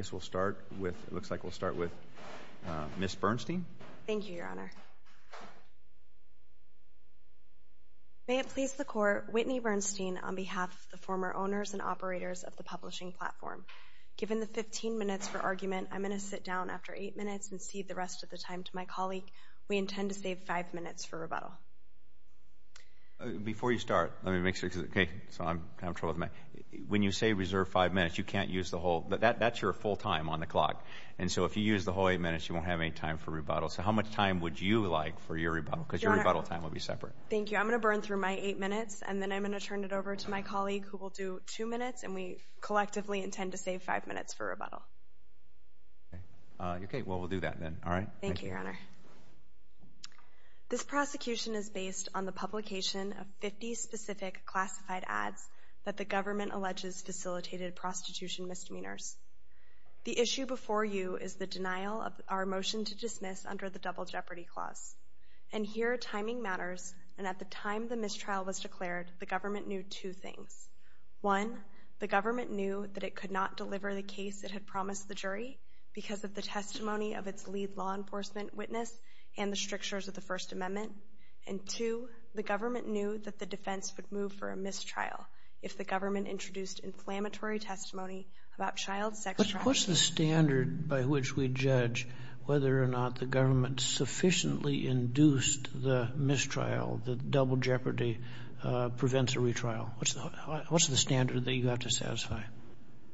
Looks like we'll start with Ms. Bernstein. Thank you, Your Honor. May it please the Court, Whitney Bernstein on behalf of the former owners and operators of the publishing platform. Given the 15 minutes for argument, I'm going to sit down after 8 minutes and cede the rest of the time to my colleague. We intend to save 5 minutes for rebuttal. Before you start, let me make sure, okay, so I'm in trouble with my, when you say reserve 5 minutes, you can't use the whole, that's your full time on the clock. And so if you use the whole 8 minutes, you won't have any time for rebuttal. So how much time would you like for your rebuttal? Because your rebuttal time will be separate. Thank you. I'm going to burn through my 8 minutes and then I'm going to turn it over to my colleague who will do 2 minutes and we collectively intend to save 5 minutes for rebuttal. Okay, well we'll do that then. Thank you, Your Honor. This prosecution is based on the publication of 50 specific classified ads that the government alleges facilitated prostitution misdemeanors. The issue before you is the denial of our motion to dismiss under the Double Jeopardy Clause. And here timing matters and at the time the mistrial was declared, the government knew two things. One, the government knew that it could not deliver the case it had promised the jury because of the testimony of its lead law enforcement witness and the strictures of the First Amendment. And two, the government knew that the defense would move for a mistrial. If the government introduced inflammatory testimony about child sex trafficking. What's the standard by which we judge whether or not the government sufficiently induced the mistrial that Double Jeopardy prevents a retrial? What's the standard that you have to satisfy?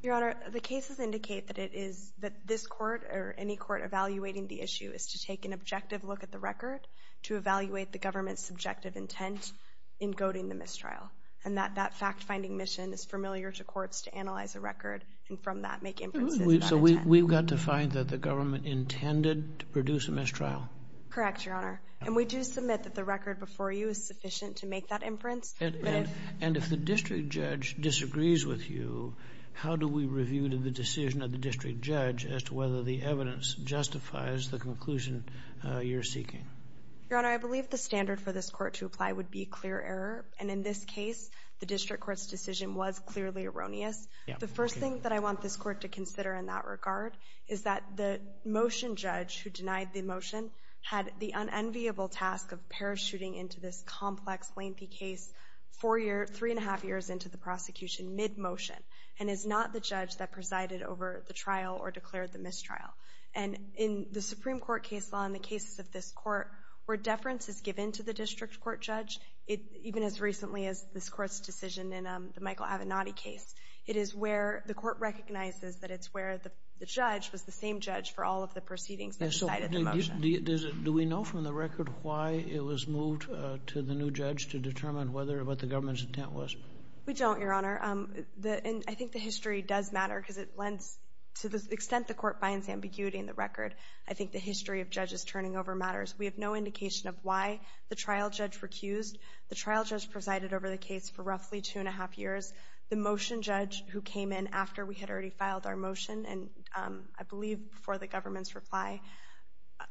Your Honor, the cases indicate that it is, that this court or any court evaluating the issue is to take an objective look at the record to evaluate the government's subjective intent in goading the mistrial. And that fact-finding mission is familiar to courts to analyze a record and from that make inferences about intent. So we've got to find that the government intended to produce a mistrial? Correct, Your Honor. And we do submit that the record before you is sufficient to make that inference. And if the district judge disagrees with you, how do we review the decision of the district judge as to whether the evidence justifies the conclusion you're seeking? Your Honor, I believe the standard for this court to apply would be clear error and in this case the district court's decision was clearly erroneous. The first thing that I want this court to consider in that regard is that the motion judge who denied the motion had the unenviable task of parachuting into this complex, lengthy case three and a half years into the prosecution mid-motion and is not the judge that presided over the trial or declared the mistrial. And in the Supreme Court case law and the cases of this court where deference is given to the district court judge, even as recently as this court's decision in the Michael Avenatti case, it is where the court recognizes that it's where the judge was the same judge for all of the proceedings that decided the motion. Do we know from the record why it was moved to the new judge to determine what the government's intent was? We don't, Your Honor. And I think the history does matter because to the extent the court finds ambiguity in the record, I think the history of judges turning over matters. We have no indication of why the trial judge recused. The trial judge presided over the case for roughly two and a half years. The motion judge who came in after we had already filed our motion and I believe before the government's reply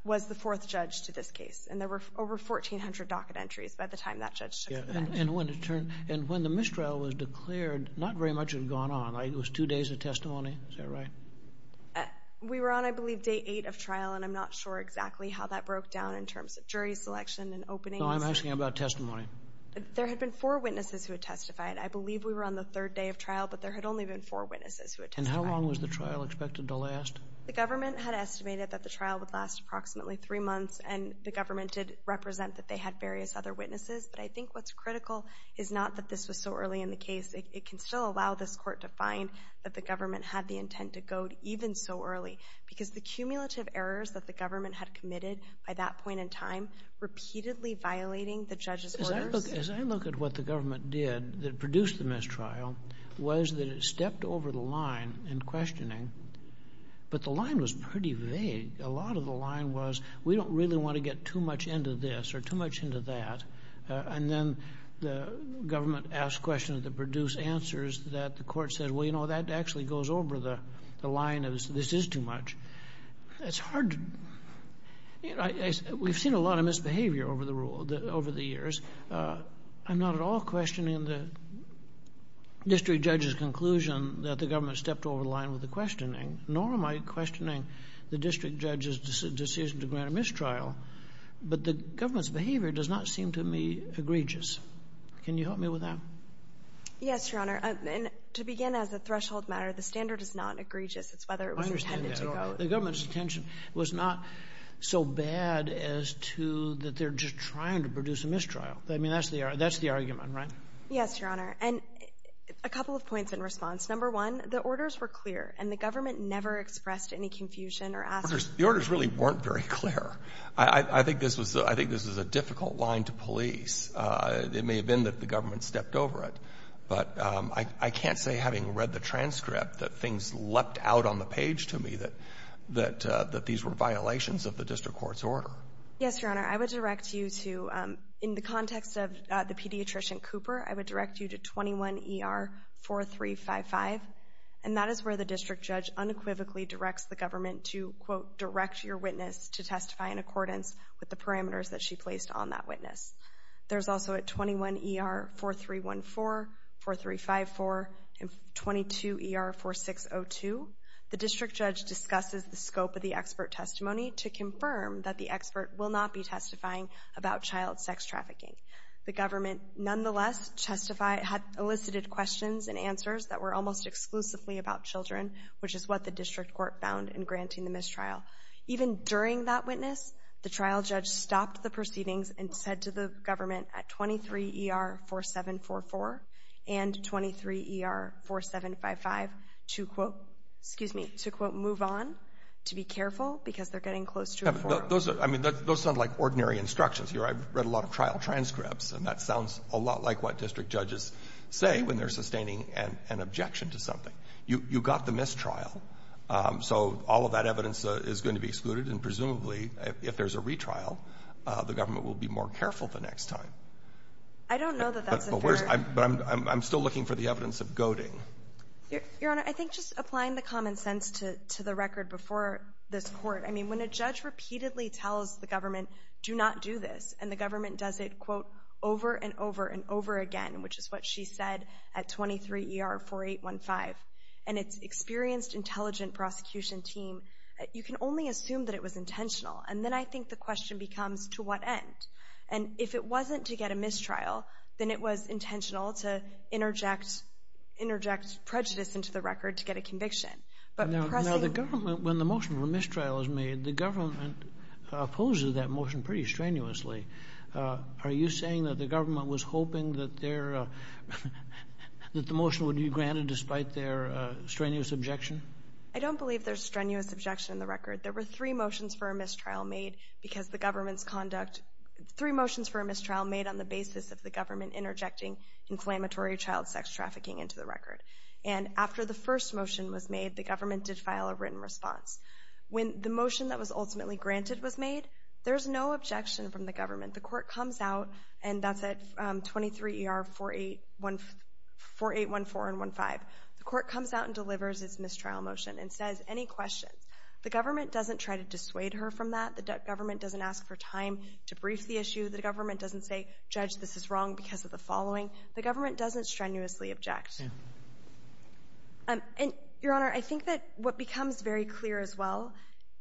was the fourth judge to this case. And there were over 1,400 docket entries by the time that judge took the action. And when the mistrial was declared, not very much had gone on. It was two days of testimony. Is that right? We were on, I believe, day eight of trial, and I'm not sure exactly how that broke down in terms of jury selection and openings. No, I'm asking about testimony. There had been four witnesses who had testified. I believe we were on the third day of trial, but there had only been four witnesses who had testified. And how long was the trial expected to last? The government had estimated that the trial would last approximately three months, and the government did represent that they had various other witnesses. But I think what's critical is not that this was so early in the case. It can still allow this court to find that the government had the intent to go even so early because the cumulative errors that the government had committed by that point in time, repeatedly violating the judge's orders. As I look at what the government did that produced the mistrial, was that it stepped over the line in questioning. But the line was pretty vague. A lot of the line was, we don't really want to get too much into this or too much into that. And then the government asked questions that produced answers that the court said, well, you know, that actually goes over the line and this is too much. It's hard. We've seen a lot of misbehavior over the years. I'm not at all questioning the district judge's conclusion that the government stepped over the line with the questioning, nor am I questioning the district judge's decision to grant a mistrial. But the government's behavior does not seem to me egregious. Can you help me with that? Yes, Your Honor. And to begin as a threshold matter, the standard is not egregious. It's whether it was intended to go. I understand that. The government's intention was not so bad as to that they're just trying to produce a mistrial. I mean, that's the argument, right? Yes, Your Honor. And a couple of points in response. Number one, the orders were clear, and the government never expressed any confusion or asked questions. The orders really weren't very clear. I think this was a difficult line to police. It may have been that the government stepped over it. But I can't say, having read the transcript, that things leapt out on the page to me that these were violations of the district court's order. Yes, Your Honor. I would direct you to, in the context of the pediatrician Cooper, I would direct you to 21-ER-4355. And that is where the district judge unequivocally directs the government to, quote, direct your witness to testify in accordance with the parameters that she placed on that witness. There's also at 21-ER-4314, 4354, and 22-ER-4602, the district judge discusses the scope of the expert testimony to confirm that the expert will not be testifying about child sex trafficking. The government, nonetheless, elicited questions and answers that were almost exclusively about children, which is what the district court found in granting the mistrial. Even during that witness, the trial judge stopped the proceedings and said to the government at 23-ER-4744 and 23-ER-4755 to, quote, excuse me, to, quote, move on, to be careful, because they're getting close to a four. Those sound like ordinary instructions. I've read a lot of trial transcripts, and that sounds a lot like what district judges say when they're sustaining an objection to something. You got the mistrial, so all of that evidence is going to be excluded, and presumably, if there's a retrial, the government will be more careful the next time. I don't know that that's a fair... But I'm still looking for the evidence of goading. Your Honor, I think just applying the common sense to the record before this court, I mean, when a judge repeatedly tells the government, do not do this, and the government does it, quote, over and over and over again, which is what she said at 23-ER-4815, and it's experienced, intelligent prosecution team, you can only assume that it was intentional. And then I think the question becomes, to what end? And if it wasn't to get a mistrial, then it was intentional to interject prejudice into the record to get a conviction. But pressing... Now, the government, when the motion for mistrial is made, the government opposes that motion pretty strenuously. Are you saying that the government was hoping that their... that the motion would be granted despite their strenuous objection? I don't believe there's strenuous objection in the record. There were three motions for a mistrial made because the government's conduct... Three motions for a mistrial made on the basis of the government interjecting inflammatory child sex trafficking into the record. And after the first motion was made, the government did file a written response. When the motion that was ultimately granted was made, there's no objection from the government. The court comes out, and that's at 23-ER-4814 and 15. The court comes out and delivers its mistrial motion and says, Any questions? The government doesn't try to dissuade her from that. The government doesn't ask for time to brief the issue. The government doesn't say, Judge, this is wrong because of the following. The government doesn't strenuously object. And, Your Honor, I think that what becomes very clear as well,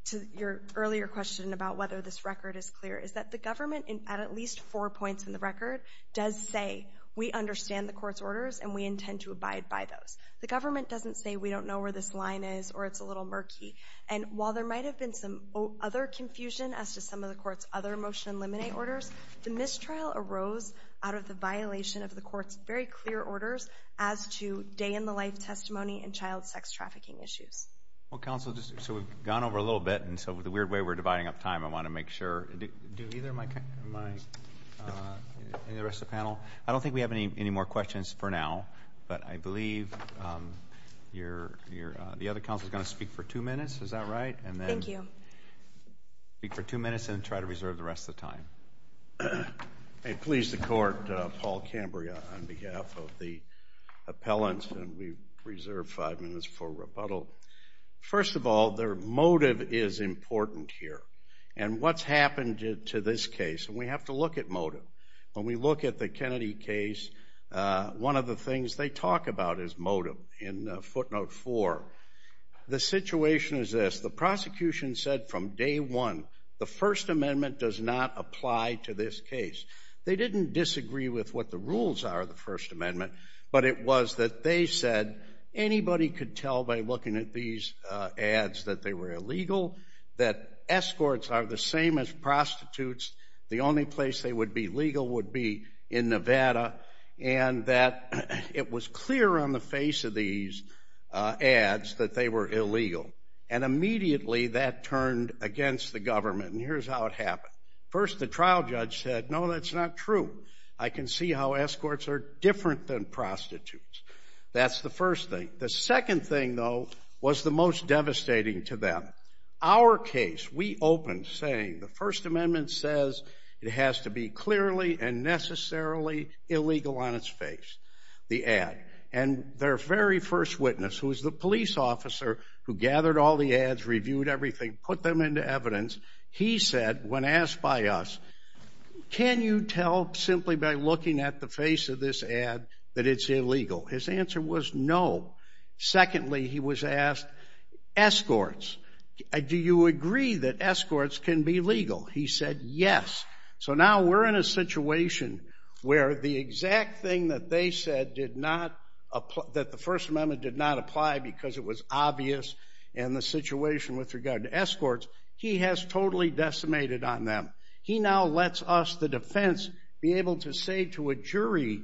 to your earlier question about whether this record is clear, is that the government, at at least four points in the record, does say, We understand the court's orders, and we intend to abide by those. The government doesn't say, We don't know where this line is, or it's a little murky. And while there might have been some other confusion as to some of the court's other motion and limine orders, the mistrial arose out of the violation of the court's very clear orders as to day-in-the-life testimony and child sex trafficking issues. Well, counsel, so we've gone over a little bit, and so the weird way we're dividing up time, I want to make sure. Do either of my, any of the rest of the panel? I don't think we have any more questions for now, but I believe the other counsel is going to speak for two minutes. Is that right? Thank you. And then speak for two minutes and try to reserve the rest of the time. I please the Court, Paul Cambria, on behalf of the appellants, and we reserve five minutes for rebuttal. First of all, their motive is important here. And what's happened to this case? And we have to look at motive. When we look at the Kennedy case, one of the things they talk about is motive in footnote four. The situation is this. The prosecution said from day one the First Amendment does not apply to this case. They didn't disagree with what the rules are of the First Amendment, but it was that they said anybody could tell by looking at these ads that they were illegal, that escorts are the same as prostitutes, the only place they would be legal would be in Nevada, and that it was clear on the face of these ads that they were illegal. And immediately that turned against the government, and here's how it happened. First, the trial judge said, no, that's not true. I can see how escorts are different than prostitutes. That's the first thing. The second thing, though, was the most devastating to them. Our case, we opened saying the First Amendment says it has to be clearly and necessarily illegal on its face, the ad. And their very first witness, who is the police officer who gathered all the ads, reviewed everything, put them into evidence, he said when asked by us, can you tell simply by looking at the face of this ad that it's illegal? His answer was no. Secondly, he was asked, escorts, do you agree that escorts can be legal? He said yes. So now we're in a situation where the exact thing that they said did not apply, that the First Amendment did not apply because it was obvious in the situation with regard to escorts, he has totally decimated on them. He now lets us, the defense, be able to say to a jury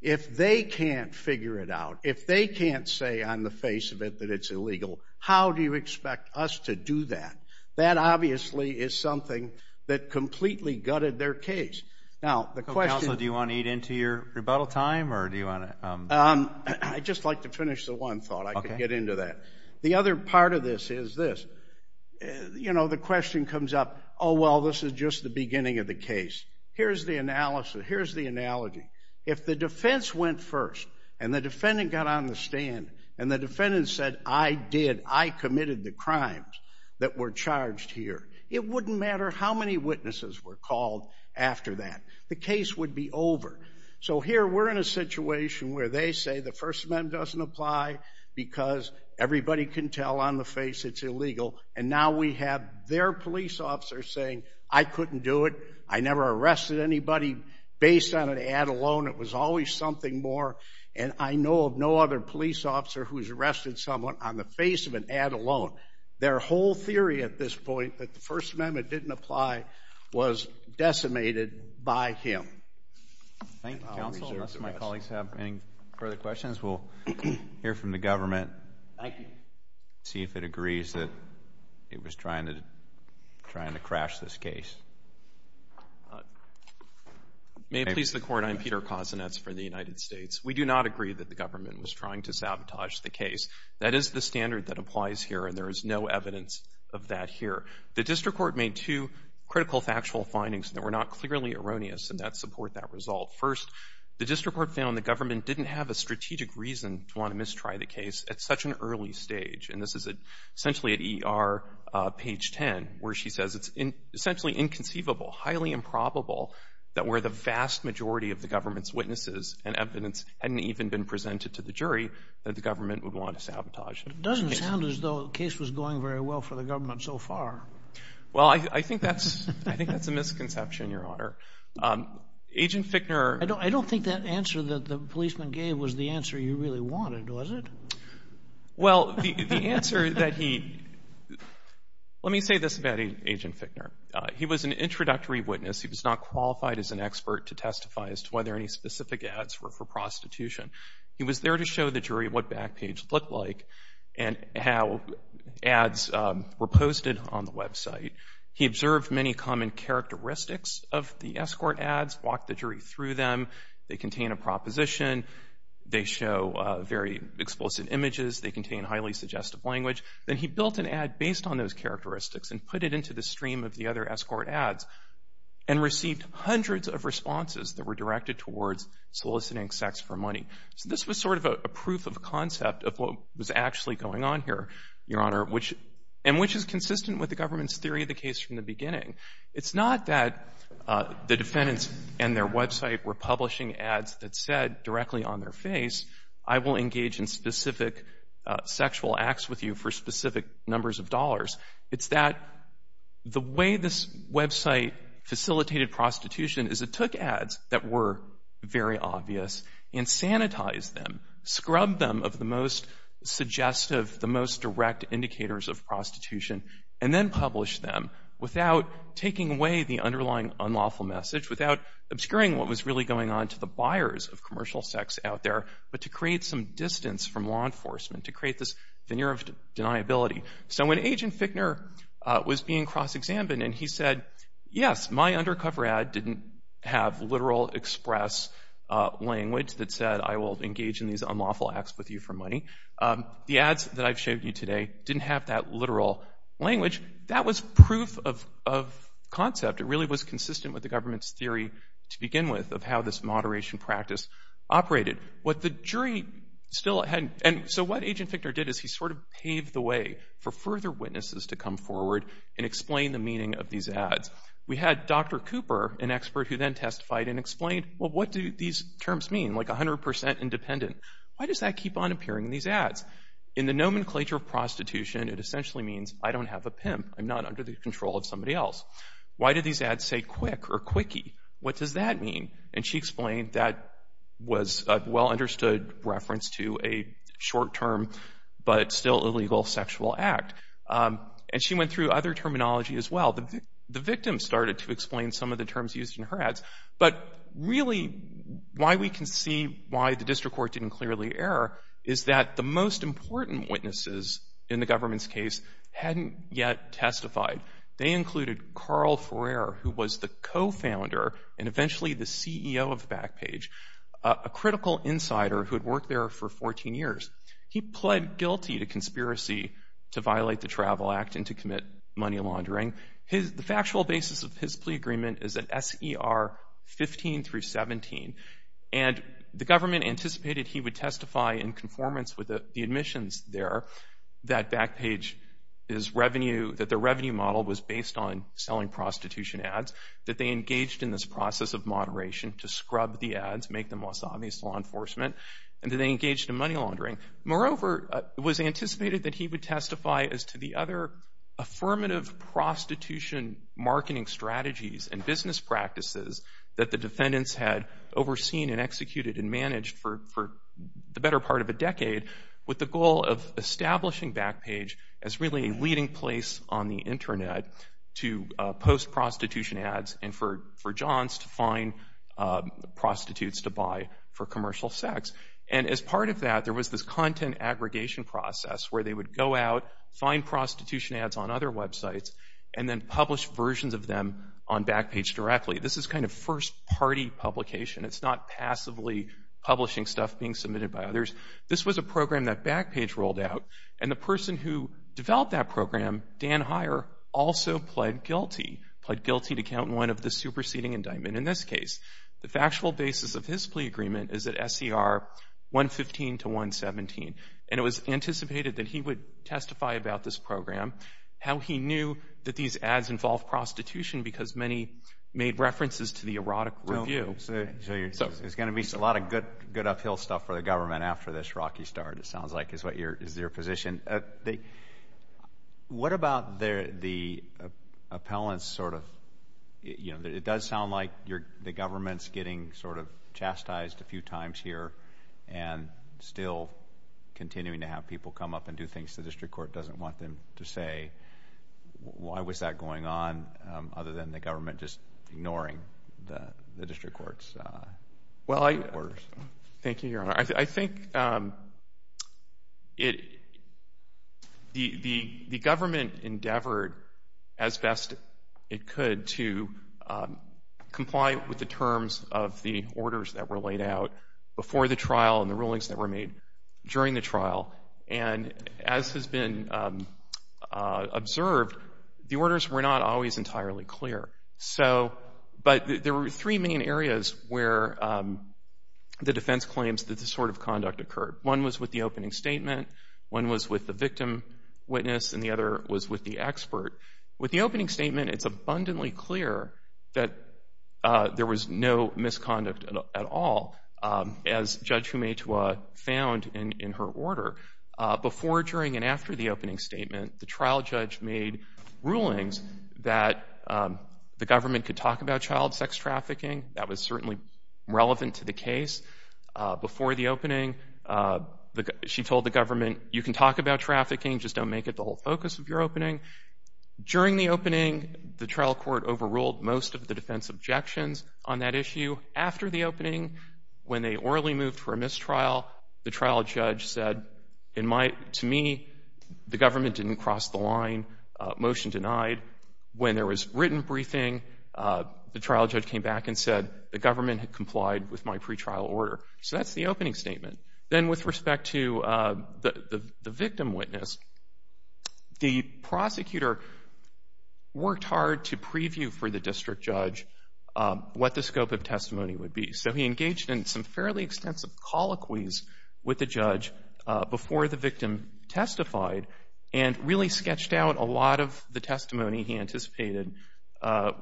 if they can't figure it out, if they can't say on the face of it that it's illegal, how do you expect us to do that? That obviously is something that completely gutted their case. Now, the question – Counsel, do you want to eat into your rebuttal time or do you want to – I'd just like to finish the one thought I could get into that. The other part of this is this. The question comes up, oh, well, this is just the beginning of the case. Here's the analogy. If the defense went first and the defendant got on the stand and the defendant said, I did, I committed the crimes that were charged here, it wouldn't matter how many witnesses were called after that. The case would be over. So here we're in a situation where they say the First Amendment doesn't apply because everybody can tell on the face it's illegal, and now we have their police officer saying, I couldn't do it, I never arrested anybody based on an ad alone, it was always something more, and I know of no other police officer who's arrested someone on the face of an ad alone. Their whole theory at this point, that the First Amendment didn't apply, was decimated by him. Thank you, Counsel. Unless my colleagues have any further questions, we'll hear from the government, see if it agrees that it was trying to crash this case. May it please the Court, I'm Peter Kosinetz for the United States. We do not agree that the government was trying to sabotage the case. That is the standard that applies here, and there is no evidence of that here. The district court made two critical factual findings that were not clearly erroneous, and that support that result. First, the district court found the government didn't have a strategic reason to want to mistry the case at such an early stage, and this is essentially at ER page 10, where she says it's essentially inconceivable, highly improbable, that where the vast majority of the government's witnesses and evidence hadn't even been presented to the jury, that the government would want to sabotage the case. It doesn't sound as though the case was going very well for the government so far. Well, I think that's a misconception, Your Honor. Agent Fickner... I don't think that answer that the policeman gave was the answer you really wanted, was it? Well, the answer that he... Let me say this about Agent Fickner. He was an introductory witness. He was not qualified as an expert to testify as to whether any specific ads were for prostitution. He was there to show the jury what Backpage looked like and how ads were posted on the website. He observed many common characteristics of the escort ads, walked the jury through them. They contain a proposition. They show very explicit images. They contain highly suggestive language. Then he built an ad based on those characteristics and put it into the stream of the other escort ads and received hundreds of responses that were directed towards soliciting sex for money. So this was sort of a proof of concept of what was actually going on here, Your Honor, and which is consistent with the government's theory of the case from the beginning. It's not that the defendants and their website were publishing ads that said directly on their face, I will engage in specific sexual acts with you for specific numbers of dollars. It's that the way this website facilitated prostitution is it took ads that were very obvious and sanitized them, scrubbed them of the most suggestive, the most direct indicators of prostitution, and then published them without taking away the underlying unlawful message, without obscuring what was really going on to the buyers of commercial sex out there, but to create some distance from law enforcement, to create this veneer of deniability. So when Agent Fickner was being cross-examined and he said, yes, my undercover ad didn't have literal express language that said I will engage in these unlawful acts with you for money. The ads that I've showed you today didn't have that literal language. That was proof of concept. It really was consistent with the government's theory to begin with of how this moderation practice operated. What the jury still hadn't, and so what Agent Fickner did is he sort of paved the way for further witnesses to come forward and explain the meaning of these ads. We had Dr. Cooper, an expert who then testified and explained, well, what do these terms mean, like 100% independent? Why does that keep on appearing in these ads? In the nomenclature of prostitution, it essentially means I don't have a pimp. I'm not under the control of somebody else. Why do these ads say quick or quickie? What does that mean? And she explained that was a well-understood reference to a short-term but still illegal sexual act. And she went through other terminology as well. The victim started to explain some of the terms used in her ads, but really why we can see why the district court didn't clearly err is that the most important witnesses in the government's case hadn't yet testified. They included Carl Ferrer, who was the co-founder and eventually the CEO of Backpage, a critical insider who had worked there for 14 years. He pled guilty to conspiracy to violate the Travel Act and to commit money laundering. The factual basis of his plea agreement is at S.E.R. 15 through 17, and the government anticipated he would testify in conformance with the admissions there that Backpage's revenue, that their revenue model was based on selling prostitution ads, that they engaged in this process of moderation to scrub the ads, make them less obvious to law enforcement, and that they engaged in money laundering. Moreover, it was anticipated that he would testify as to the other affirmative prostitution marketing strategies and business practices that the defendants had overseen and executed and managed for the better part of a decade with the goal of establishing Backpage as really a leading place on the Internet to post prostitution ads and for Johns to find prostitutes to buy for commercial sex. And as part of that, there was this content aggregation process where they would go out, find prostitution ads on other websites, and then publish versions of them on Backpage directly. This is kind of first-party publication. It's not passively publishing stuff being submitted by others. This was a program that Backpage rolled out, and the person who developed that program, Dan Heyer, also pled guilty, pled guilty to count one of the superseding indictment in this case. The factual basis of his plea agreement is at SCR 115 to 117, and it was anticipated that he would testify about this program, how he knew that these ads involved prostitution because many made references to the erotic review. So there's going to be a lot of good uphill stuff for the government after this rocky start, it sounds like, is your position. What about the appellant's sort of, you know, it does sound like the government's getting sort of chastised a few times here and still continuing to have people come up and do things the district court doesn't want them to say. Why was that going on other than the government just ignoring the district court's orders? Thank you, Your Honor. I think the government endeavored as best it could to comply with the terms of the orders that were laid out before the trial and the rulings that were made during the trial, and as has been observed, the orders were not always entirely clear. But there were three main areas where the defense claims that this sort of conduct occurred. One was with the opening statement, one was with the victim witness, and the other was with the expert. With the opening statement, it's abundantly clear that there was no misconduct at all, as Judge Humetua found in her order. Before, during, and after the opening statement, the trial judge made rulings that the government could talk about child sex trafficking. That was certainly relevant to the case. Before the opening, she told the government, you can talk about trafficking, just don't make it the whole focus of your opening. During the opening, the trial court overruled most of the defense objections on that issue. After the opening, when they orally moved for a mistrial, the trial judge said, to me, the government didn't cross the line, motion denied. When there was written briefing, the trial judge came back and said, the government had complied with my pretrial order. So that's the opening statement. Then with respect to the victim witness, the prosecutor worked hard to preview for the district judge what the scope of testimony would be. So he engaged in some fairly extensive colloquies with the judge before the victim testified and really sketched out a lot of the testimony he anticipated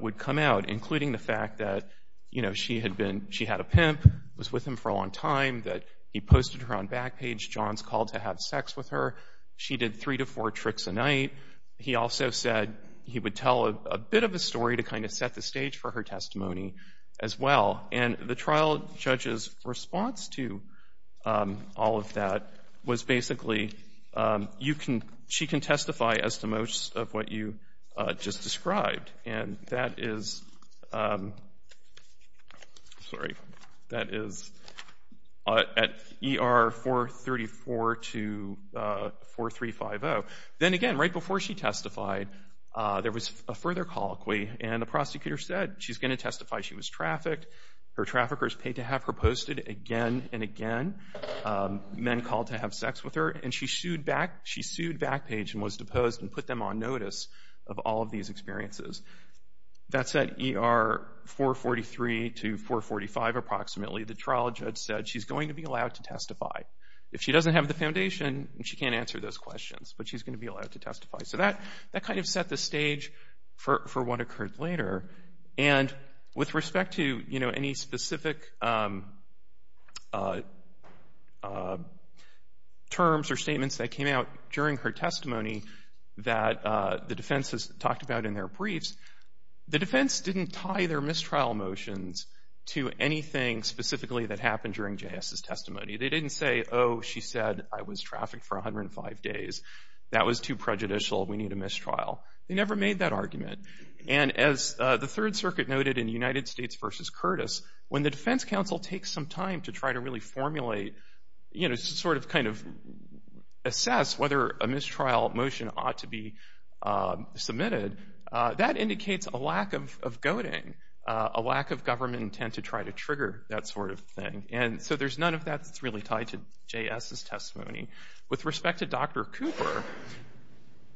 would come out, including the fact that she had a pimp, was with him for a long time, that he posted her on Backpage, John's call to have sex with her, she did three to four tricks a night. He also said he would tell a bit of a story to kind of set the stage for her testimony as well. And the trial judge's response to all of that was basically, she can testify as to most of what you just described, and that is at ER 434 to 4350. Then again, right before she testified, there was a further colloquy, and the prosecutor said she's going to testify she was trafficked, her traffickers paid to have her posted again and again, men called to have sex with her, and she sued Backpage and was deposed and put them on notice of all of these experiences. That's at ER 443 to 445 approximately. The trial judge said she's going to be allowed to testify. If she doesn't have the foundation, she can't answer those questions, but she's going to be allowed to testify. So that kind of set the stage for what occurred later. And with respect to any specific terms or statements that came out during her testimony that the defense has talked about in their briefs, the defense didn't tie their mistrial motions to anything specifically that happened during J.S.'s testimony. They didn't say, oh, she said I was trafficked for 105 days. That was too prejudicial. We need a mistrial. They never made that argument. And as the Third Circuit noted in United States v. Curtis, when the defense counsel takes some time to try to really formulate, you know, sort of kind of assess whether a mistrial motion ought to be submitted, that indicates a lack of goading, a lack of government intent to try to trigger that sort of thing. And so there's none of that that's really tied to J.S.'s testimony. With respect to Dr. Cooper,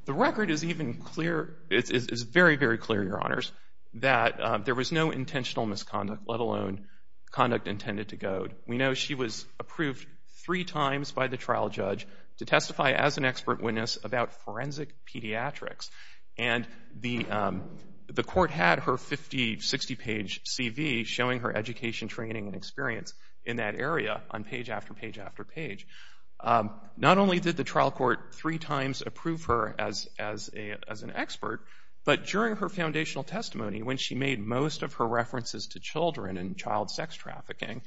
the record is even clear, is very, very clear, Your Honors, that there was no intentional misconduct, let alone conduct intended to goad. We know she was approved three times by the trial judge to testify as an expert witness about forensic pediatrics. And the court had her 50-, 60-page CV showing her education, training, and experience in that area on page after page after page. Not only did the trial court three times approve her as an expert, but during her foundational testimony when she made most of her references to children and child sex trafficking,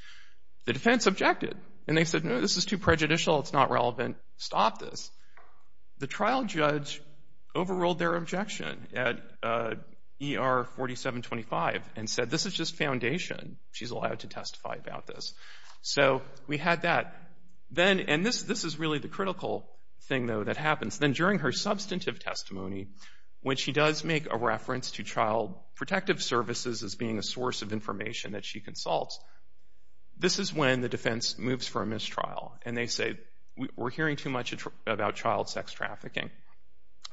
the defense objected. And they said, No, this is too prejudicial. It's not relevant. Stop this. The trial judge overruled their objection at ER 4725 and said, This is just foundation. She's allowed to testify about this. So we had that. And this is really the critical thing, though, that happens. Then during her substantive testimony, when she does make a reference to child protective services as being a source of information that she consults, this is when the defense moves for a mistrial. And they say, We're hearing too much about child sex trafficking.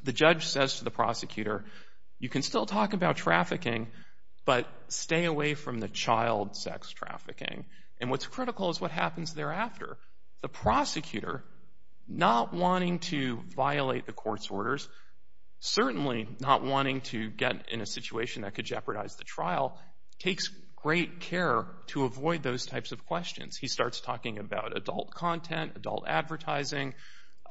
The judge says to the prosecutor, You can still talk about trafficking, but stay away from the child sex trafficking. And what's critical is what happens thereafter. The prosecutor, not wanting to violate the court's orders, certainly not wanting to get in a situation that could jeopardize the trial, takes great care to avoid those types of questions. He starts talking about adult content, adult advertising,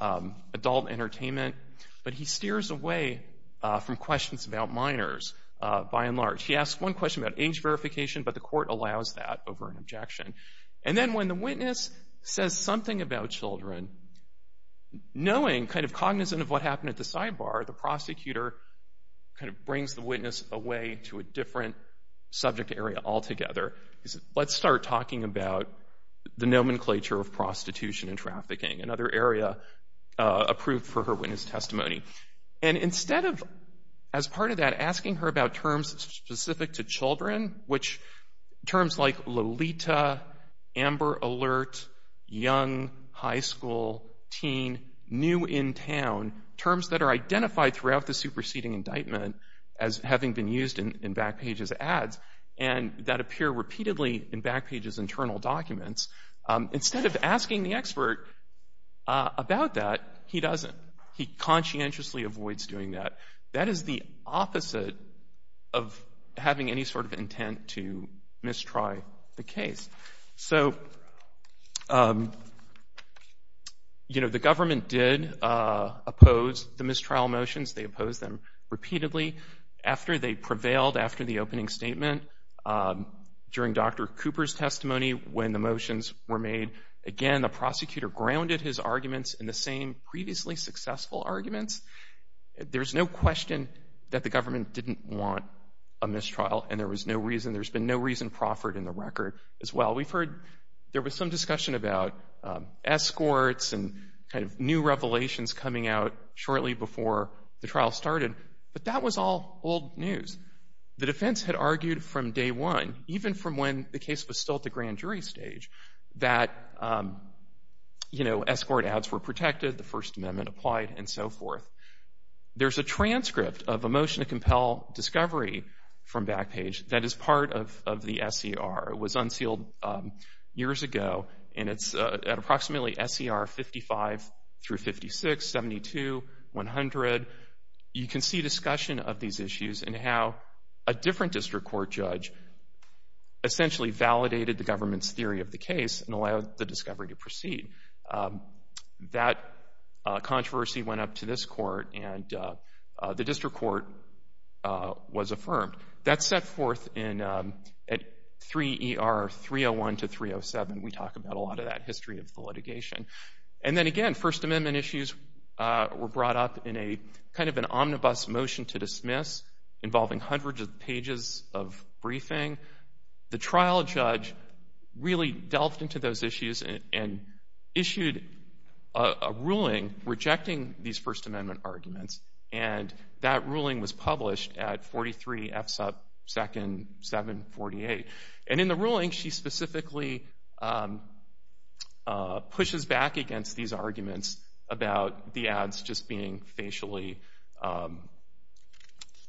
adult entertainment, but he steers away from questions about minors by and large. He asks one question about age verification, but the court allows that over an objection. And then when the witness says something about children, knowing kind of cognizant of what happened at the sidebar, the prosecutor kind of brings the witness away to a different subject area altogether. He says, Let's start talking about the nomenclature of prostitution and trafficking, another area approved for her witness testimony. And instead of, as part of that, asking her about terms specific to children, which terms like Lolita, Amber Alert, young, high school, teen, new in town, terms that are identified throughout the superseding indictment as having been used in Backpage's ads and that appear repeatedly in Backpage's internal documents, instead of asking the expert about that, he doesn't. He conscientiously avoids doing that. That is the opposite of having any sort of intent to mistry the case. So, you know, the government did oppose the mistrial motions. They opposed them repeatedly. After they prevailed after the opening statement, during Dr. Cooper's testimony when the motions were made, again, the prosecutor grounded his arguments in the same previously successful arguments. There's no question that the government didn't want a mistrial, and there was no reason, there's been no reason proffered in the record as well. We've heard there was some discussion about escorts and kind of new revelations coming out shortly before the trial started, but that was all old news. The defense had argued from day one, even from when the case was still at the grand jury stage, that, you know, escort ads were protected, the First Amendment applied, and so forth. There's a transcript of a motion to compel discovery from Backpage that is part of the SCR. It was unsealed years ago, and it's at approximately SCR 55 through 56, 72, 100. You can see discussion of these issues and how a different district court judge essentially validated the government's theory of the case and allowed the discovery to proceed. That controversy went up to this court, and the district court was affirmed. That's set forth at 3 ER 301 to 307. We talk about a lot of that history of the litigation. And then, again, First Amendment issues were brought up in a kind of an omnibus motion to dismiss involving hundreds of pages of briefing. The trial judge really delved into those issues and issued a ruling rejecting these First Amendment arguments, and that ruling was published at 43 F sub 2nd 748. And in the ruling, she specifically pushes back against these arguments about the ads just being facially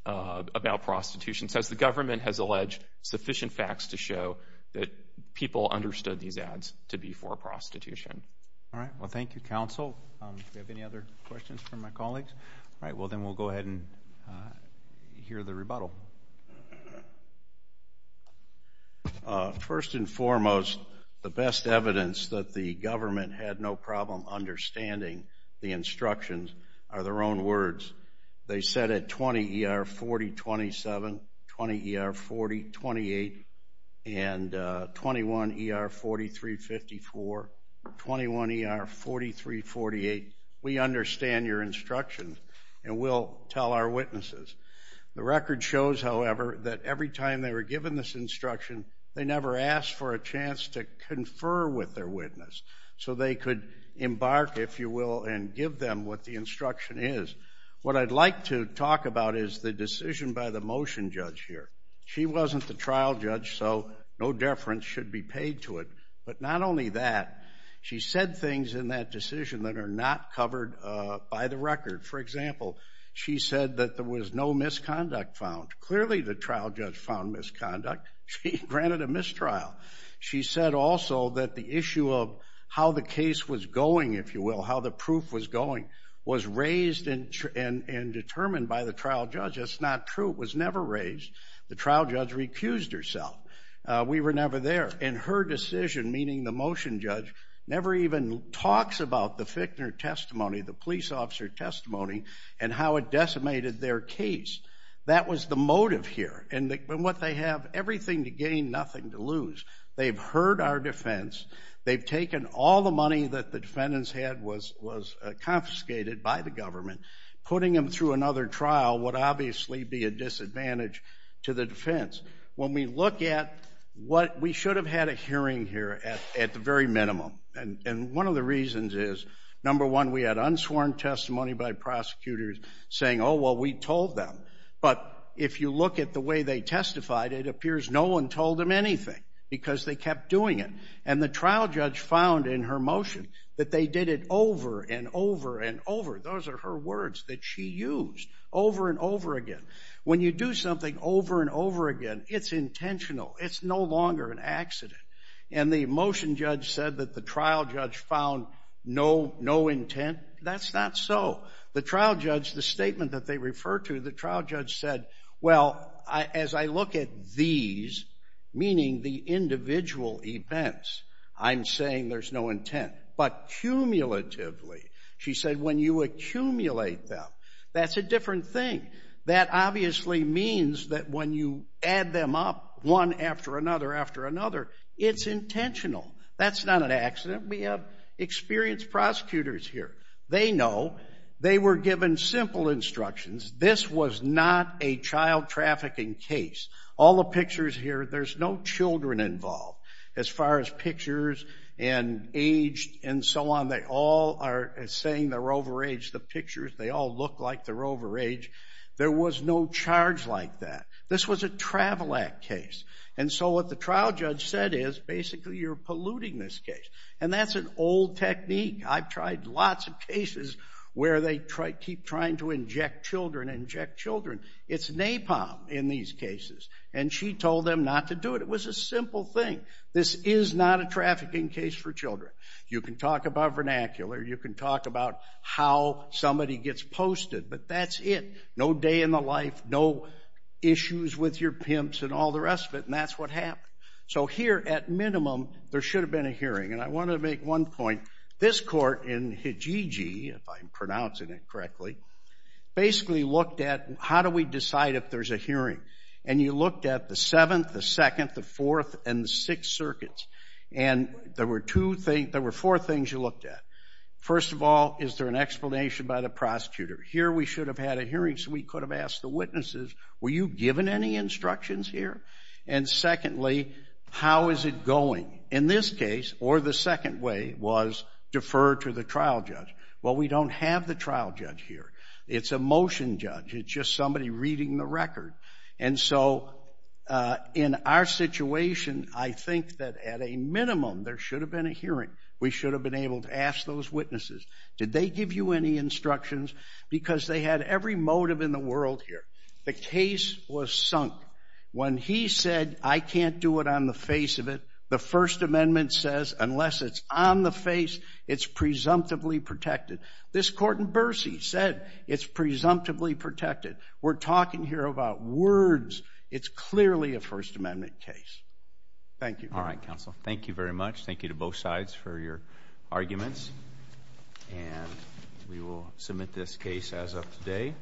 about prostitution. So as the government has alleged sufficient facts to show that people understood these ads to be for prostitution. All right, well, thank you, counsel. Do we have any other questions from my colleagues? All right, well, then we'll go ahead and hear the rebuttal. First and foremost, the best evidence that the government had no problem understanding the instructions are their own words. They said at 20 ER 4027, 20 ER 4028, and 21 ER 4354, 21 ER 4348, we understand your instructions and will tell our witnesses. The record shows, however, that every time they were given this instruction, they never asked for a chance to confer with their witness so they could embark, if you will, and give them what the instruction is. What I'd like to talk about is the decision by the motion judge here. She wasn't the trial judge, so no deference should be paid to it. But not only that, she said things in that decision that are not covered by the record. For example, she said that there was no misconduct found. Clearly the trial judge found misconduct. She granted a mistrial. She said also that the issue of how the case was going, if you will, how the proof was going, was raised and determined by the trial judge. That's not true. It was never raised. The trial judge recused herself. We were never there. And her decision, meaning the motion judge, never even talks about the Fickner testimony, the police officer testimony, and how it decimated their case. That was the motive here. And what they have, everything to gain, nothing to lose. They've heard our defense. They've taken all the money that the defendants had was confiscated by the government. Putting them through another trial would obviously be a disadvantage to the defense. When we look at what we should have had a hearing here at the very minimum, and one of the reasons is, number one, we had unsworn testimony by prosecutors saying, oh, well, we told them. But if you look at the way they testified, it appears no one told them anything because they kept doing it. And the trial judge found in her motion that they did it over and over and over. Those are her words that she used over and over again. When you do something over and over again, it's intentional. It's no longer an accident. And the motion judge said that the trial judge found no intent. That's not so. The trial judge, the statement that they refer to, the trial judge said, well, as I look at these, meaning the individual events, I'm saying there's no intent. But cumulatively, she said, when you accumulate them, that's a different thing. That obviously means that when you add them up one after another after another, it's intentional. That's not an accident. We have experienced prosecutors here. They know. They were given simple instructions. This was not a child trafficking case. All the pictures here, there's no children involved. As far as pictures and age and so on, they all are saying they're overage. The pictures, they all look like they're overage. There was no charge like that. This was a travel act case. And so what the trial judge said is, basically, you're polluting this case. And that's an old technique. I've tried lots of cases where they keep trying to inject children and inject children. It's napalm in these cases. And she told them not to do it. It was a simple thing. This is not a trafficking case for children. You can talk about vernacular. You can talk about how somebody gets posted. But that's it. No day in the life. No issues with your pimps and all the rest of it. And that's what happened. So here, at minimum, there should have been a hearing. And I want to make one point. This court in Hijiji, if I'm pronouncing it correctly, basically looked at how do we decide if there's a hearing. And you looked at the Seventh, the Second, the Fourth, and the Sixth Circuits. And there were four things you looked at. First of all, is there an explanation by the prosecutor? Here we should have had a hearing so we could have asked the witnesses, were you given any instructions here? And secondly, how is it going? In this case, or the second way was defer to the trial judge. Well, we don't have the trial judge here. It's a motion judge. It's just somebody reading the record. And so in our situation, I think that at a minimum, there should have been a hearing. We should have been able to ask those witnesses, did they give you any instructions? Because they had every motive in the world here. The case was sunk. When he said, I can't do it on the face of it, the First Amendment says, unless it's on the face, it's presumptively protected. This court in Bercy said it's presumptively protected. We're talking here about words. It's clearly a First Amendment case. Thank you. All right, counsel. Thank you very much. Thank you to both sides for your arguments. And we will submit this case as of today.